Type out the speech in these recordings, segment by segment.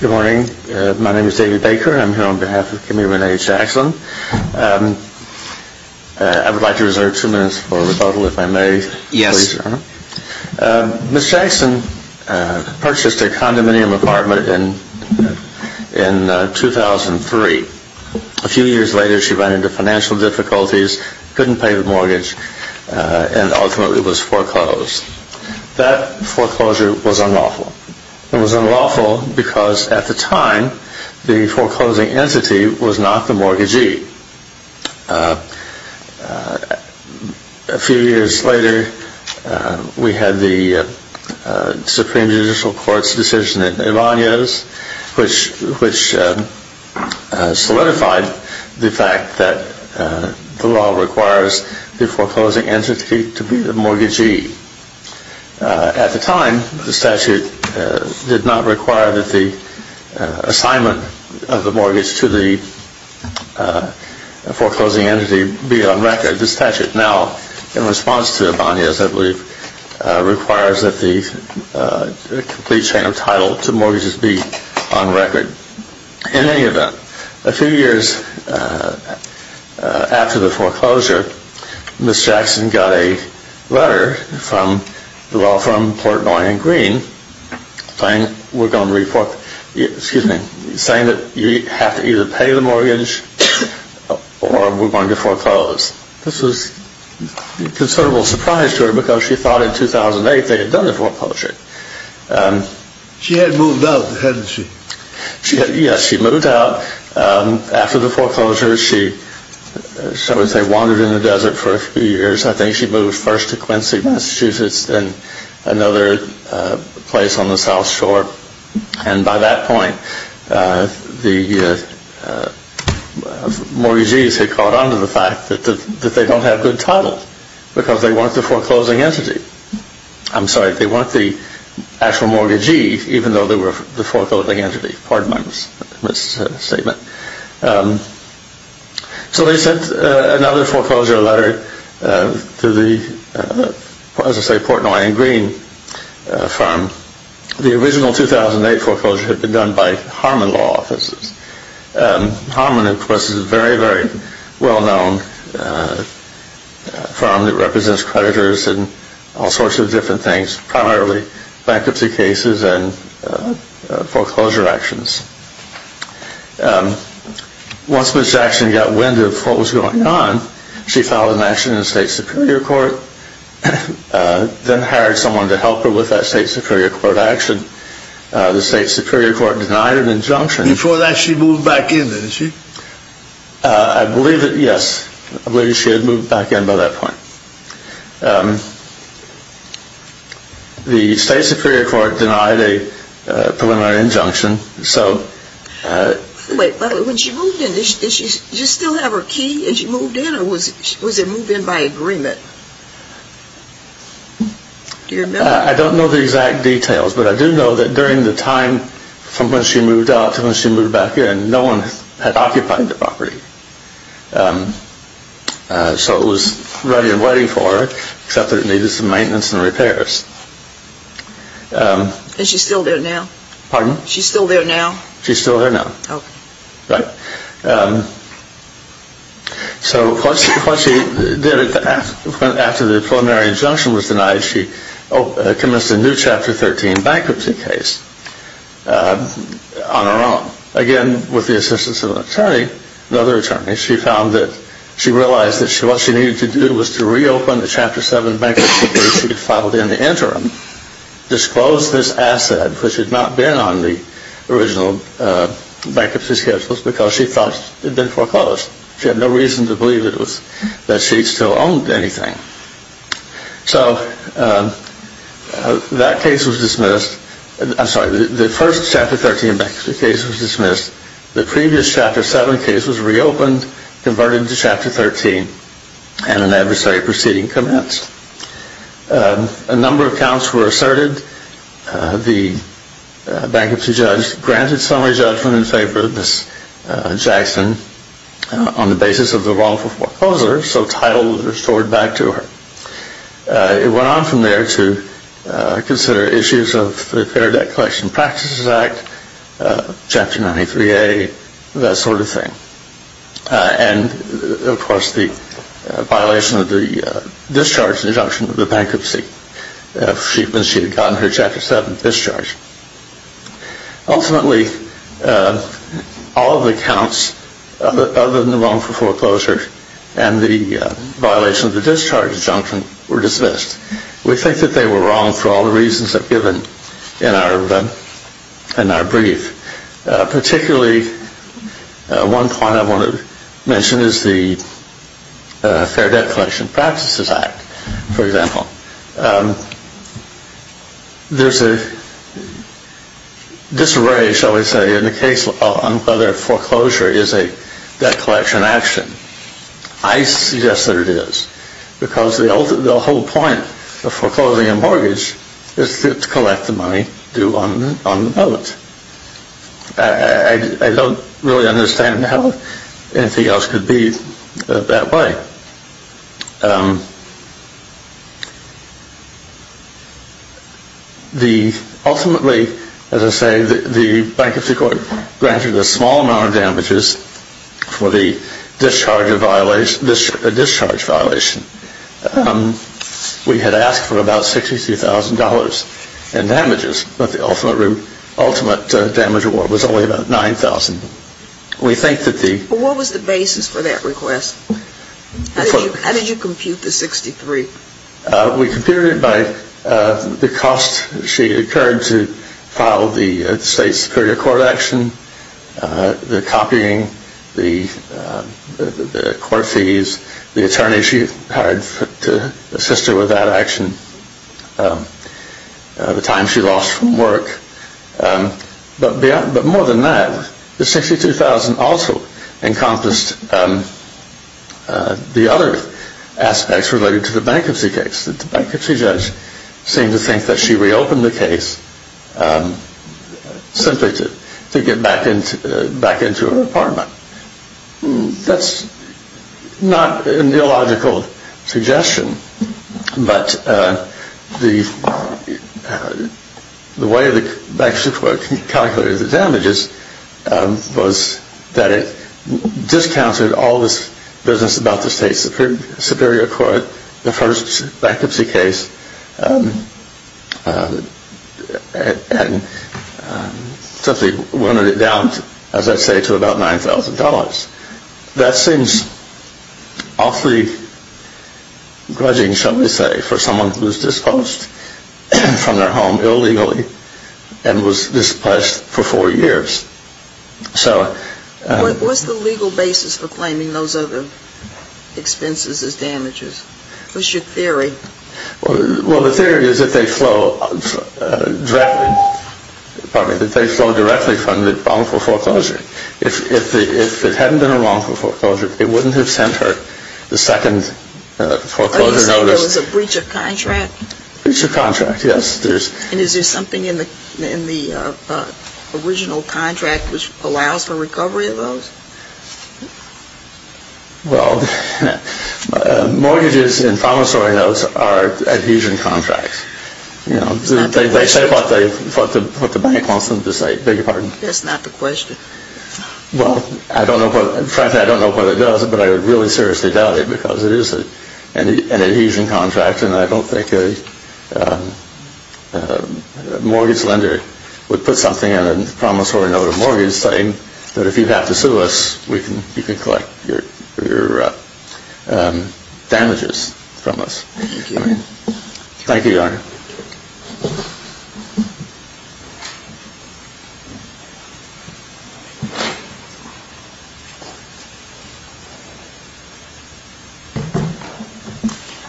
Good morning. My name is David Baker. I'm here on behalf of Commuter Rene Jackson. I would like to reserve two minutes for rebuttal, if I may. Yes. Yes, sir. Ms. Jackson purchased a condominium apartment in 2003. A few years later, she ran into financial difficulties, couldn't pay the mortgage, and ultimately was foreclosed. That foreclosure was unlawful. It was unlawful because, at the time, the foreclosing entity was not the mortgagee. A few years later, we had the Supreme Judicial Court's decision in Ibanez, which solidified the fact that the law requires the foreclosing entity to be the mortgagee. At the time, the statute did not require that the assignment of the mortgage to the foreclosing entity be on record. The statute now, in response to Ibanez, I believe, requires that the complete chain of title to mortgages be on record. In any event, a few years after the foreclosure, Ms. Jackson got a letter from Portnoy and Green saying that you have to either pay the mortgage or we're going to foreclose. This was a considerable surprise to her because she thought in 2008 they had done the foreclosure. She had moved out, hadn't she? By that point, the mortgagees had caught on to the fact that they don't have good title because they want the actual mortgagee even though they were the foreclosing entity. So they sent another foreclosure letter to the Portnoy and Green firm. The original 2008 foreclosure had been done by Harmon Law Offices. Harmon, of course, is very, very well known. It represents creditors and all sorts of different things, primarily bankruptcy cases and foreclosure actions. Once Ms. Jackson got wind of what was going on, she filed an action in the State Superior Court, then hired someone to help her with that State Superior Court action. The State Superior Court denied an injunction. Before that, she moved back in, didn't she? I believe that, yes. I believe she had moved back in by that point. The State Superior Court denied a preliminary injunction. Wait, but when she moved in, did she still have her key and she moved in or was it moved in by agreement? I don't know the exact details, but I do know that during the time from when she moved out to when she moved back in, no one had occupied the property. So it was ready and waiting for her, except that it needed some maintenance and repairs. Is she still there now? Pardon? Is she still there now? She's still there now. Okay. Right? So what she did after the preliminary injunction was denied, she commenced a new Chapter 13 bankruptcy case on her own. Again, with the assistance of an attorney, another attorney, she found that she realized that what she needed to do was to reopen the Chapter 7 bankruptcy case she had filed in the interim, and she disclosed this asset, which had not been on the original bankruptcy schedules because she thought it had been foreclosed. She had no reason to believe that she still owned anything. So that case was dismissed. I'm sorry, the first Chapter 13 bankruptcy case was dismissed. The previous Chapter 7 case was reopened, converted into Chapter 13, and an adversary proceeding commenced. A number of counts were asserted. The bankruptcy judge granted summary judgment in favor of Ms. Jackson on the basis of the wrongful foreclosure, so title was restored back to her. It went on from there to consider issues of the Fair Debt Collection Practices Act, Chapter 93A, that sort of thing. And, of course, the violation of the discharge injunction of the bankruptcy when she had gotten her Chapter 7 discharge. Ultimately, all of the counts other than the wrongful foreclosure and the violation of the discharge injunction were dismissed. We think that they were wrong for all the reasons I've given in our brief. Particularly, one point I want to mention is the Fair Debt Collection Practices Act, for example. There's a disarray, shall we say, in the case on whether foreclosure is a debt collection action. I suggest that it is because the whole point of foreclosing a mortgage is to collect the money due on the moment. I don't really understand how anything else could be that way. Ultimately, as I say, the bankruptcy court granted a small amount of damages for the discharge violation. We had asked for about $63,000 in damages, but the ultimate damage award was only about $9,000. What was the basis for that request? How did you compute the $63,000? We computed it by the cost she incurred to file the State Superior Court action, the copying, the court fees, the attorney she hired to assist her with that action, the time she lost from work. But more than that, the $62,000 also encompassed the other aspects related to the bankruptcy case. The bankruptcy judge seemed to think that she reopened the case simply to get back into her apartment. That's not an illogical suggestion. But the way the bankruptcy court calculated the damages was that it discounted all this business about the State Superior Court, the first bankruptcy case, and simply went it down, as I say, to about $9,000. That seems awfully grudging, shall we say, for someone who was disposed from their home illegally and was displaced for four years. What was the legal basis for claiming those other expenses as damages? What's your theory? Well, the theory is that they flow directly from the wrongful foreclosure. If it hadn't been a wrongful foreclosure, it wouldn't have sent her the second foreclosure notice. Are you saying there was a breach of contract? A breach of contract, yes. And is there something in the original contract which allows for recovery of those? Well, mortgages and promissory notes are adhesion contracts. They say what the bank wants them to say. That's not the question. Well, frankly, I don't know what it does, but I would really seriously doubt it because it is an adhesion contract. And I don't think a mortgage lender would put something on a promissory note of mortgage saying that if you have to sue us, you can collect your damages from us.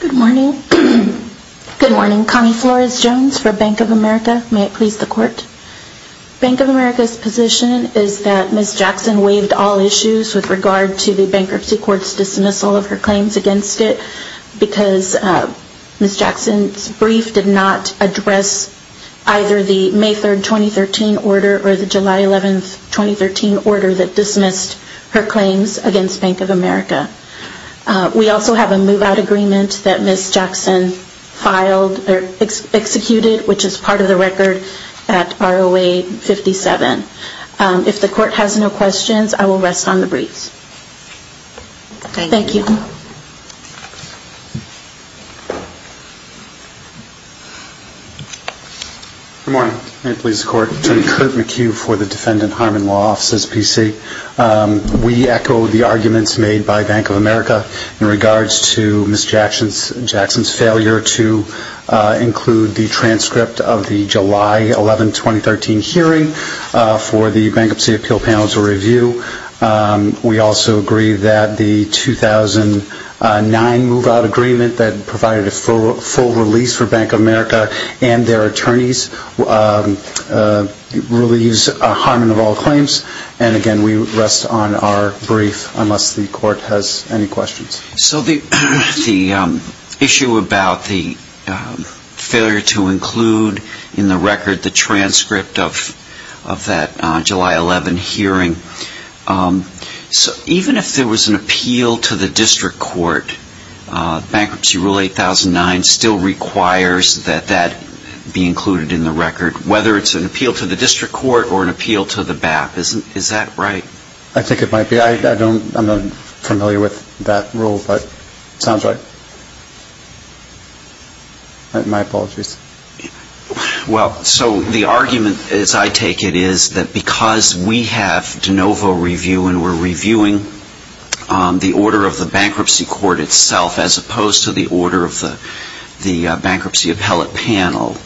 Good morning. Good morning. Connie Flores-Jones for Bank of America. May it please the Court. Bank of America's position is that Ms. Jackson waived all issues with regard to the bankruptcy court's dismissal of her claims against it and did not address either the May 3, 2013 order or the July 11, 2013 order that dismissed her claims against Bank of America. We also have a move-out agreement that Ms. Jackson filed or executed, which is part of the record at ROA 57. If the Court has no questions, I will rest on the briefs. Thank you. Good morning. May it please the Court. Attorney Kurt McHugh for the Defendant Harm and Law Offices, PC. We echo the arguments made by Bank of America in regards to Ms. Jackson's failure to include the transcript of the July 11, 2013 hearing for the Bankruptcy Appeal Panel to review. We also agree that the 2009 move-out agreement that provided a full release for Bank of America and their attorneys relieves a harm of all claims. And again, we rest on our brief unless the Court has any questions. So the issue about the failure to include in the record the transcript of that July 11 hearing, even if there was an appeal to the district court, Bankruptcy Rule 8009 still requires that that be included in the record, whether it's an appeal to the district court or an appeal to the BAP. Is that right? I think it might be. I'm not familiar with that rule, but it sounds right. My apologies. Well, so the argument, as I take it, is that because we have de novo review and we're reviewing the order of the bankruptcy court itself, as opposed to the order of the Bankruptcy Appellate Panel,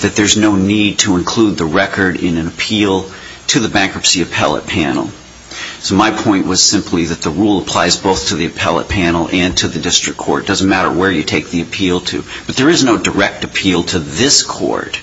that there's no need to include the record in an appeal to the Bankruptcy Appellate Panel. So my point was simply that the rule applies both to the Appellate Panel and to the district court. It doesn't matter where you take the appeal to. But there is no direct appeal to this court.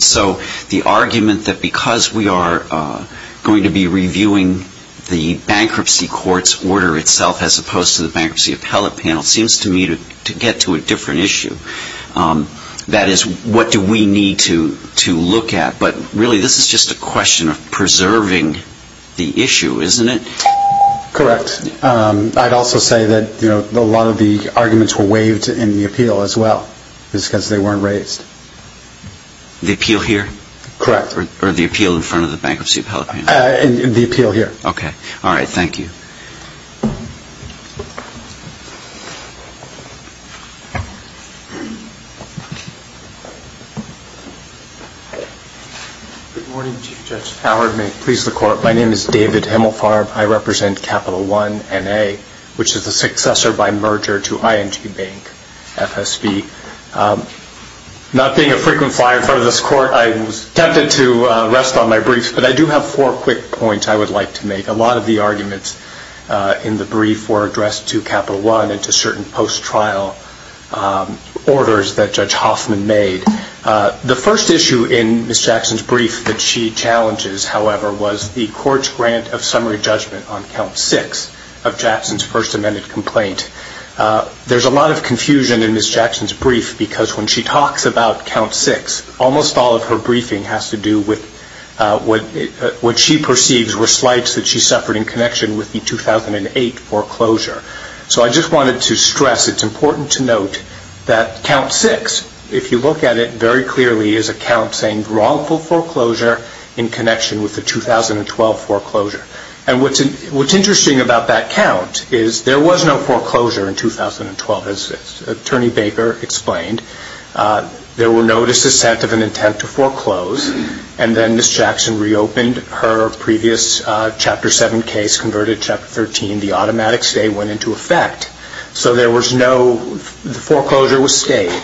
So the argument that because we are going to be reviewing the bankruptcy court's order itself, as opposed to the Bankruptcy Appellate Panel, seems to me to get to a different issue. That is, what do we need to look at? But really, this is just a question of preserving the issue, isn't it? Correct. I'd also say that a lot of the arguments were waived in the appeal as well, just because they weren't raised. The appeal here? Correct. Or the appeal in front of the Bankruptcy Appellate Panel? The appeal here. Okay. All right. Thank you. Good morning, Chief Judge Howard. May it please the Court. My name is David Hemelfarb. I represent Capital One, N.A., which is the successor by merger to ING Bank, FSB. Not being a frequent flyer in front of this Court, I was tempted to rest on my briefs, but I do have four quick points I would like to make. A lot of the arguments in the brief were addressed to Capital One and to certain post-trial organizations. But I do have a couple of points I would like to make. The first issue in Ms. Jackson's brief that she challenges, however, was the Court's grant of summary judgment on Count 6 of Jackson's First Amended Complaint. There's a lot of confusion in Ms. Jackson's brief because when she talks about Count 6, almost all of her briefing has to do with what she perceives were slights that she suffered in connection with the 2008 foreclosure. So I just wanted to stress it's important to note that Count 6, if you look at it very clearly, is a count saying wrongful foreclosure in connection with the 2012 foreclosure. And what's interesting about that count is there was no foreclosure in 2012, as Attorney Baker explained. There were notices sent of an intent to foreclose, and then Ms. Jackson reopened her previous Chapter 7 case, which was converted to Chapter 13, the automatic stay went into effect. So the foreclosure was stayed,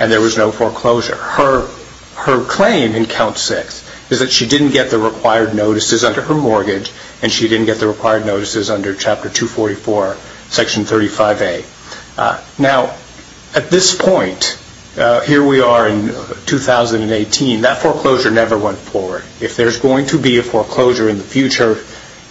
and there was no foreclosure. Her claim in Count 6 is that she didn't get the required notices under her mortgage, and she didn't get the required notices under Chapter 244, Section 35A. Now, at this point, here we are in 2018, that foreclosure never went forward. If there's going to be a foreclosure in the future,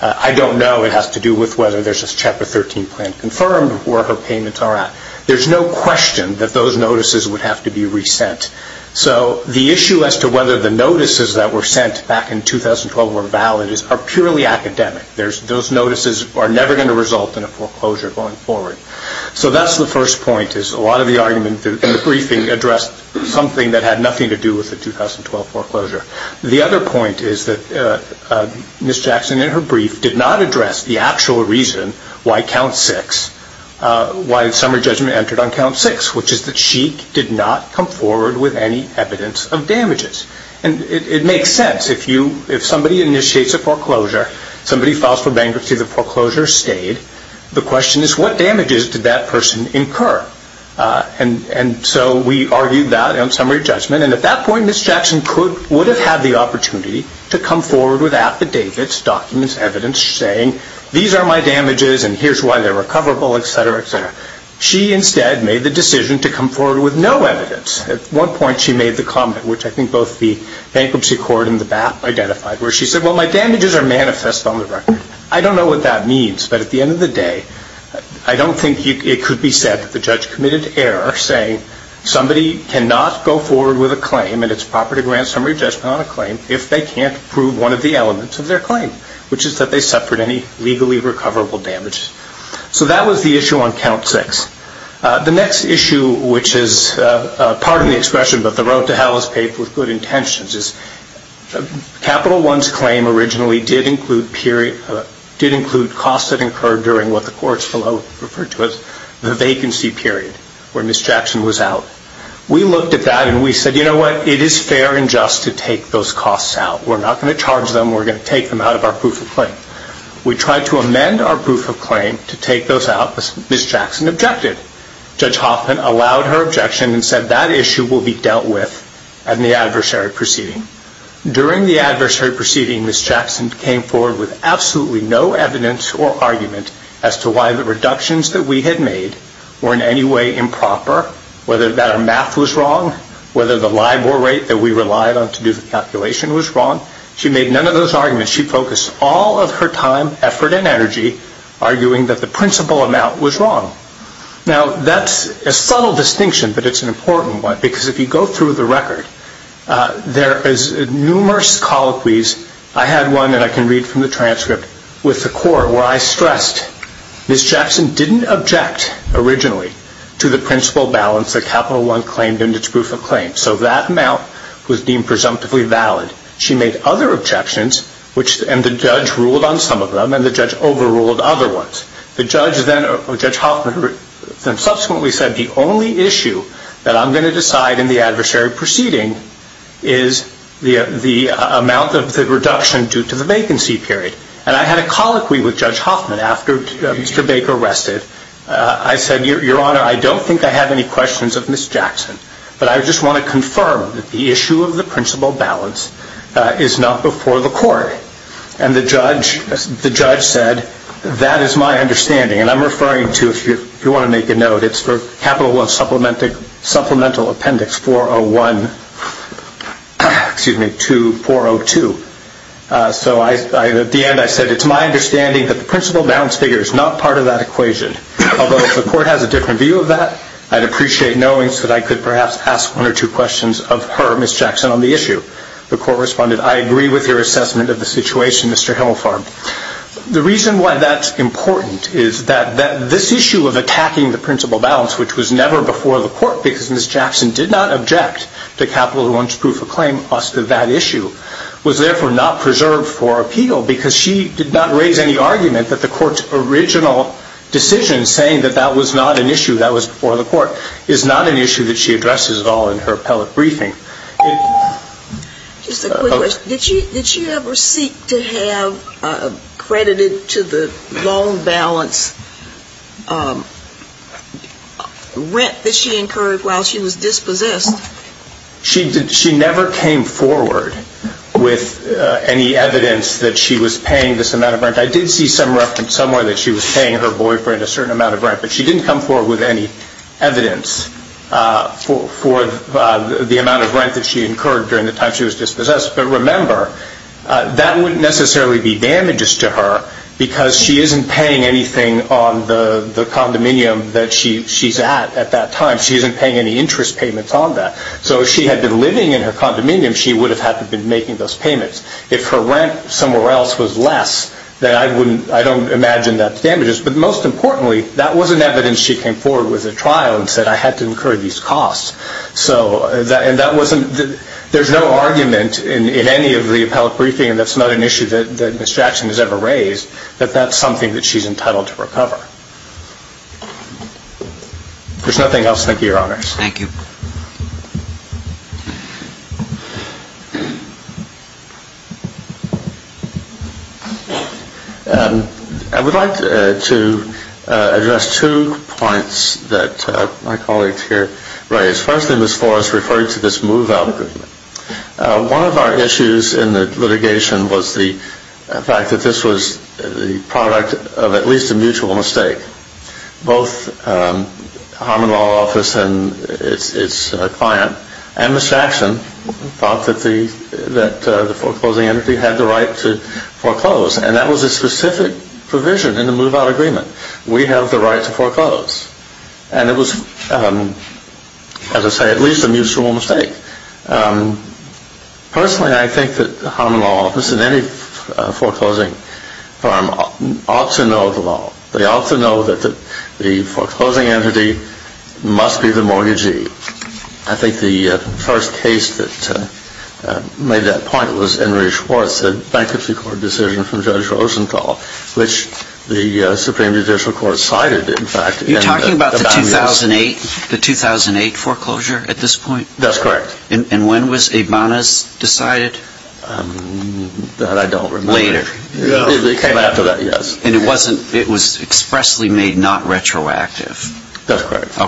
I don't know. It has to do with whether there's a Chapter 13 plan confirmed, where her payments are at. There's no question that those notices would have to be resent. So the issue as to whether the notices that were sent back in 2012 were valid are purely academic. Those notices are never going to result in a foreclosure going forward. So that's the first point, is a lot of the arguments in the briefing addressed something that had nothing to do with the 2012 foreclosure. The other point is that Ms. Jackson, in her brief, did not address the actual reason why Summer Judgment entered on Count 6, which is that she did not come forward with any evidence of damages. And it makes sense. If somebody initiates a foreclosure, somebody files for bankruptcy, the foreclosure stayed. The question is, what damages did that person incur? And so we argued that on Summer Judgment. And at that point, Ms. Jackson would have had the opportunity to come forward with affidavits, documents, evidence, saying, these are my damages and here's why they're recoverable, etc., etc. She instead made the decision to come forward with no evidence. At one point, she made the comment, which I think both the Bankruptcy Court and the BAP identified, where she said, well, my damages are manifest on the record. I don't know what that means, but at the end of the day, I don't think it could be said that the judge committed error, saying somebody cannot go forward with a claim and it's proper to grant Summer Judgment on a claim if they can't prove one of the elements of their claim, which is that they suffered any legally recoverable damage. So that was the issue on Count 6. The next issue, which is, pardon the expression, but the road to hell is paved with good intentions, Capital One's claim originally did include costs that occurred during what the courts below referred to as the vacancy period, where Ms. Jackson was out. We looked at that and we said, you know what, it is fair and just to take those costs out. We're not going to charge them. We're going to take them out of our proof of claim. We tried to amend our proof of claim to take those out. Ms. Jackson objected. Judge Hoffman allowed her objection and said that issue will be dealt with in the adversary proceeding. During the adversary proceeding, Ms. Jackson came forward with absolutely no evidence or argument as to why the reductions that we had made were in any way improper, whether that our math was wrong, whether the LIBOR rate that we relied on to do the calculation was wrong. She made none of those arguments. She focused all of her time, effort, and energy arguing that the principal amount was wrong. Now, that's a subtle distinction, but it's an important one because if you go through the record, there is numerous colloquies. I had one that I can read from the transcript with the court where I stressed, Ms. Jackson didn't object originally to the principal balance that Capital One claimed in its proof of claim. So that amount was deemed presumptively valid. She made other objections and the judge ruled on some of them and the judge overruled other ones. The judge then, or Judge Hoffman, subsequently said the only issue that I'm going to decide in the adversary proceeding is the amount of the reduction due to the vacancy period. And I had a colloquy with Judge Hoffman after Mr. Baker rested. I said, Your Honor, I don't think I have any questions of Ms. Jackson, but I just want to confirm that the issue of the principal balance is not before the court. And the judge said, That is my understanding. And I'm referring to, if you want to make a note, it's for Capital One Supplemental Appendix 401, excuse me, 402. So at the end I said, It's my understanding that the principal balance figure is not part of that equation. Although if the court has a different view of that, I'd appreciate knowing so that I could perhaps ask one or two questions of her, Ms. Jackson, on the issue. The court responded, I agree with your assessment of the situation, Mr. Himelfarb. The reason why that's important is that this issue of attacking the principal balance, which was never before the court because Ms. Jackson did not object to Capital One's proof of claim, us to that issue, was therefore not preserved for appeal because she did not raise any argument that the court's original decision saying that that was not an issue, that was before the court, is not an issue that she addresses at all in her appellate briefing. Just a quick question. Did she ever seek to have credited to the loan balance rent that she incurred while she was dispossessed? She never came forward with any evidence that she was paying this amount of rent. I did see some reference somewhere that she was paying her boyfriend a certain amount of rent, but she didn't come forward with any evidence for the amount of rent that she incurred during the time she was dispossessed. But remember, that wouldn't necessarily be damages to her because she isn't paying anything on the condominium that she's at at that time. She isn't paying any interest payments on that. So if she had been living in her condominium, she would have had to have been making those payments. If her rent somewhere else was less, then I don't imagine that's damages. But most importantly, that wasn't evidence she came forward with at trial and said, I had to incur these costs. So there's no argument in any of the appellate briefing, and that's not an issue that Ms. Jackson has ever raised, that that's something that she's entitled to recover. There's nothing else. Thank you, Your Honors. Thank you. I would like to address two points that my colleagues here raised. Firstly, Ms. Forrest referred to this move-out agreement. One of our issues in the litigation was the fact that this was the product of at least a mutual mistake. Both Harmon Law Office and its adjudicator, its client, and Ms. Jackson, thought that the foreclosing entity had the right to foreclose. And that was a specific provision in the move-out agreement. We have the right to foreclose. And it was, as I say, at least a mutual mistake. Personally, I think that Harmon Law Office and any foreclosing firm ought to know the law. They ought to know that the foreclosing entity must be the mortgagee. I think the first case that made that point was Henry Schwartz, the Bankruptcy Court decision from Judge Rosenthal, which the Supreme Judicial Court cited, in fact. You're talking about the 2008 foreclosure at this point? That's correct. That I don't remember. Later. It came after that, yes. And it was expressly made not retroactive? That's correct.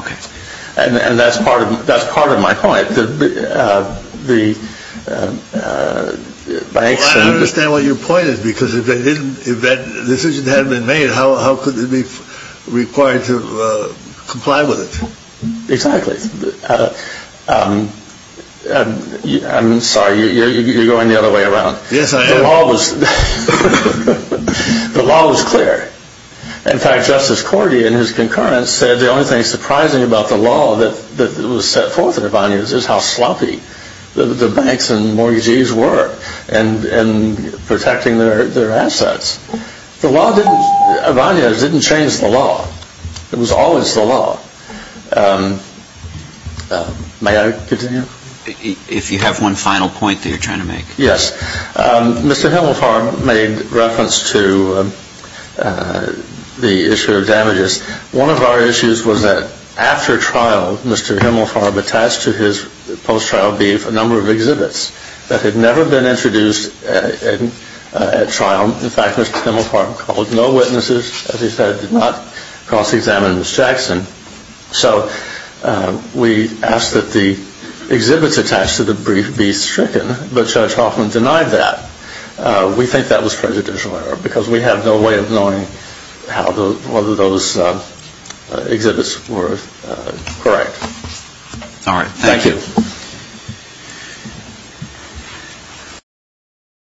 And that's part of my point. I don't understand what your point is, because if that decision hadn't been made, how could it be required to comply with it? Exactly. I'm sorry, you're going the other way around. Yes, I am. The law was clear. In fact, Justice Cordia in his concurrence said the only thing surprising about the law that was set forth in Ibanez is how sloppy the banks and mortgagees were in protecting their assets. Ibanez didn't change the law. It was always the law. May I continue? If you have one final point that you're trying to make. Yes. Mr. Himmelfarb made reference to the issue of damages. One of our issues was that after trial, Mr. Himmelfarb attached to his post-trial brief a number of exhibits that had never been introduced at trial. In fact, Mr. Himmelfarb called no witnesses, as he said, did not cross-examine Ms. Jackson. So we asked that the exhibits attached to the brief be stricken, but Judge Hoffman denied that. We think that was prejudicial error because we have no way of knowing whether those exhibits were correct. Thank you.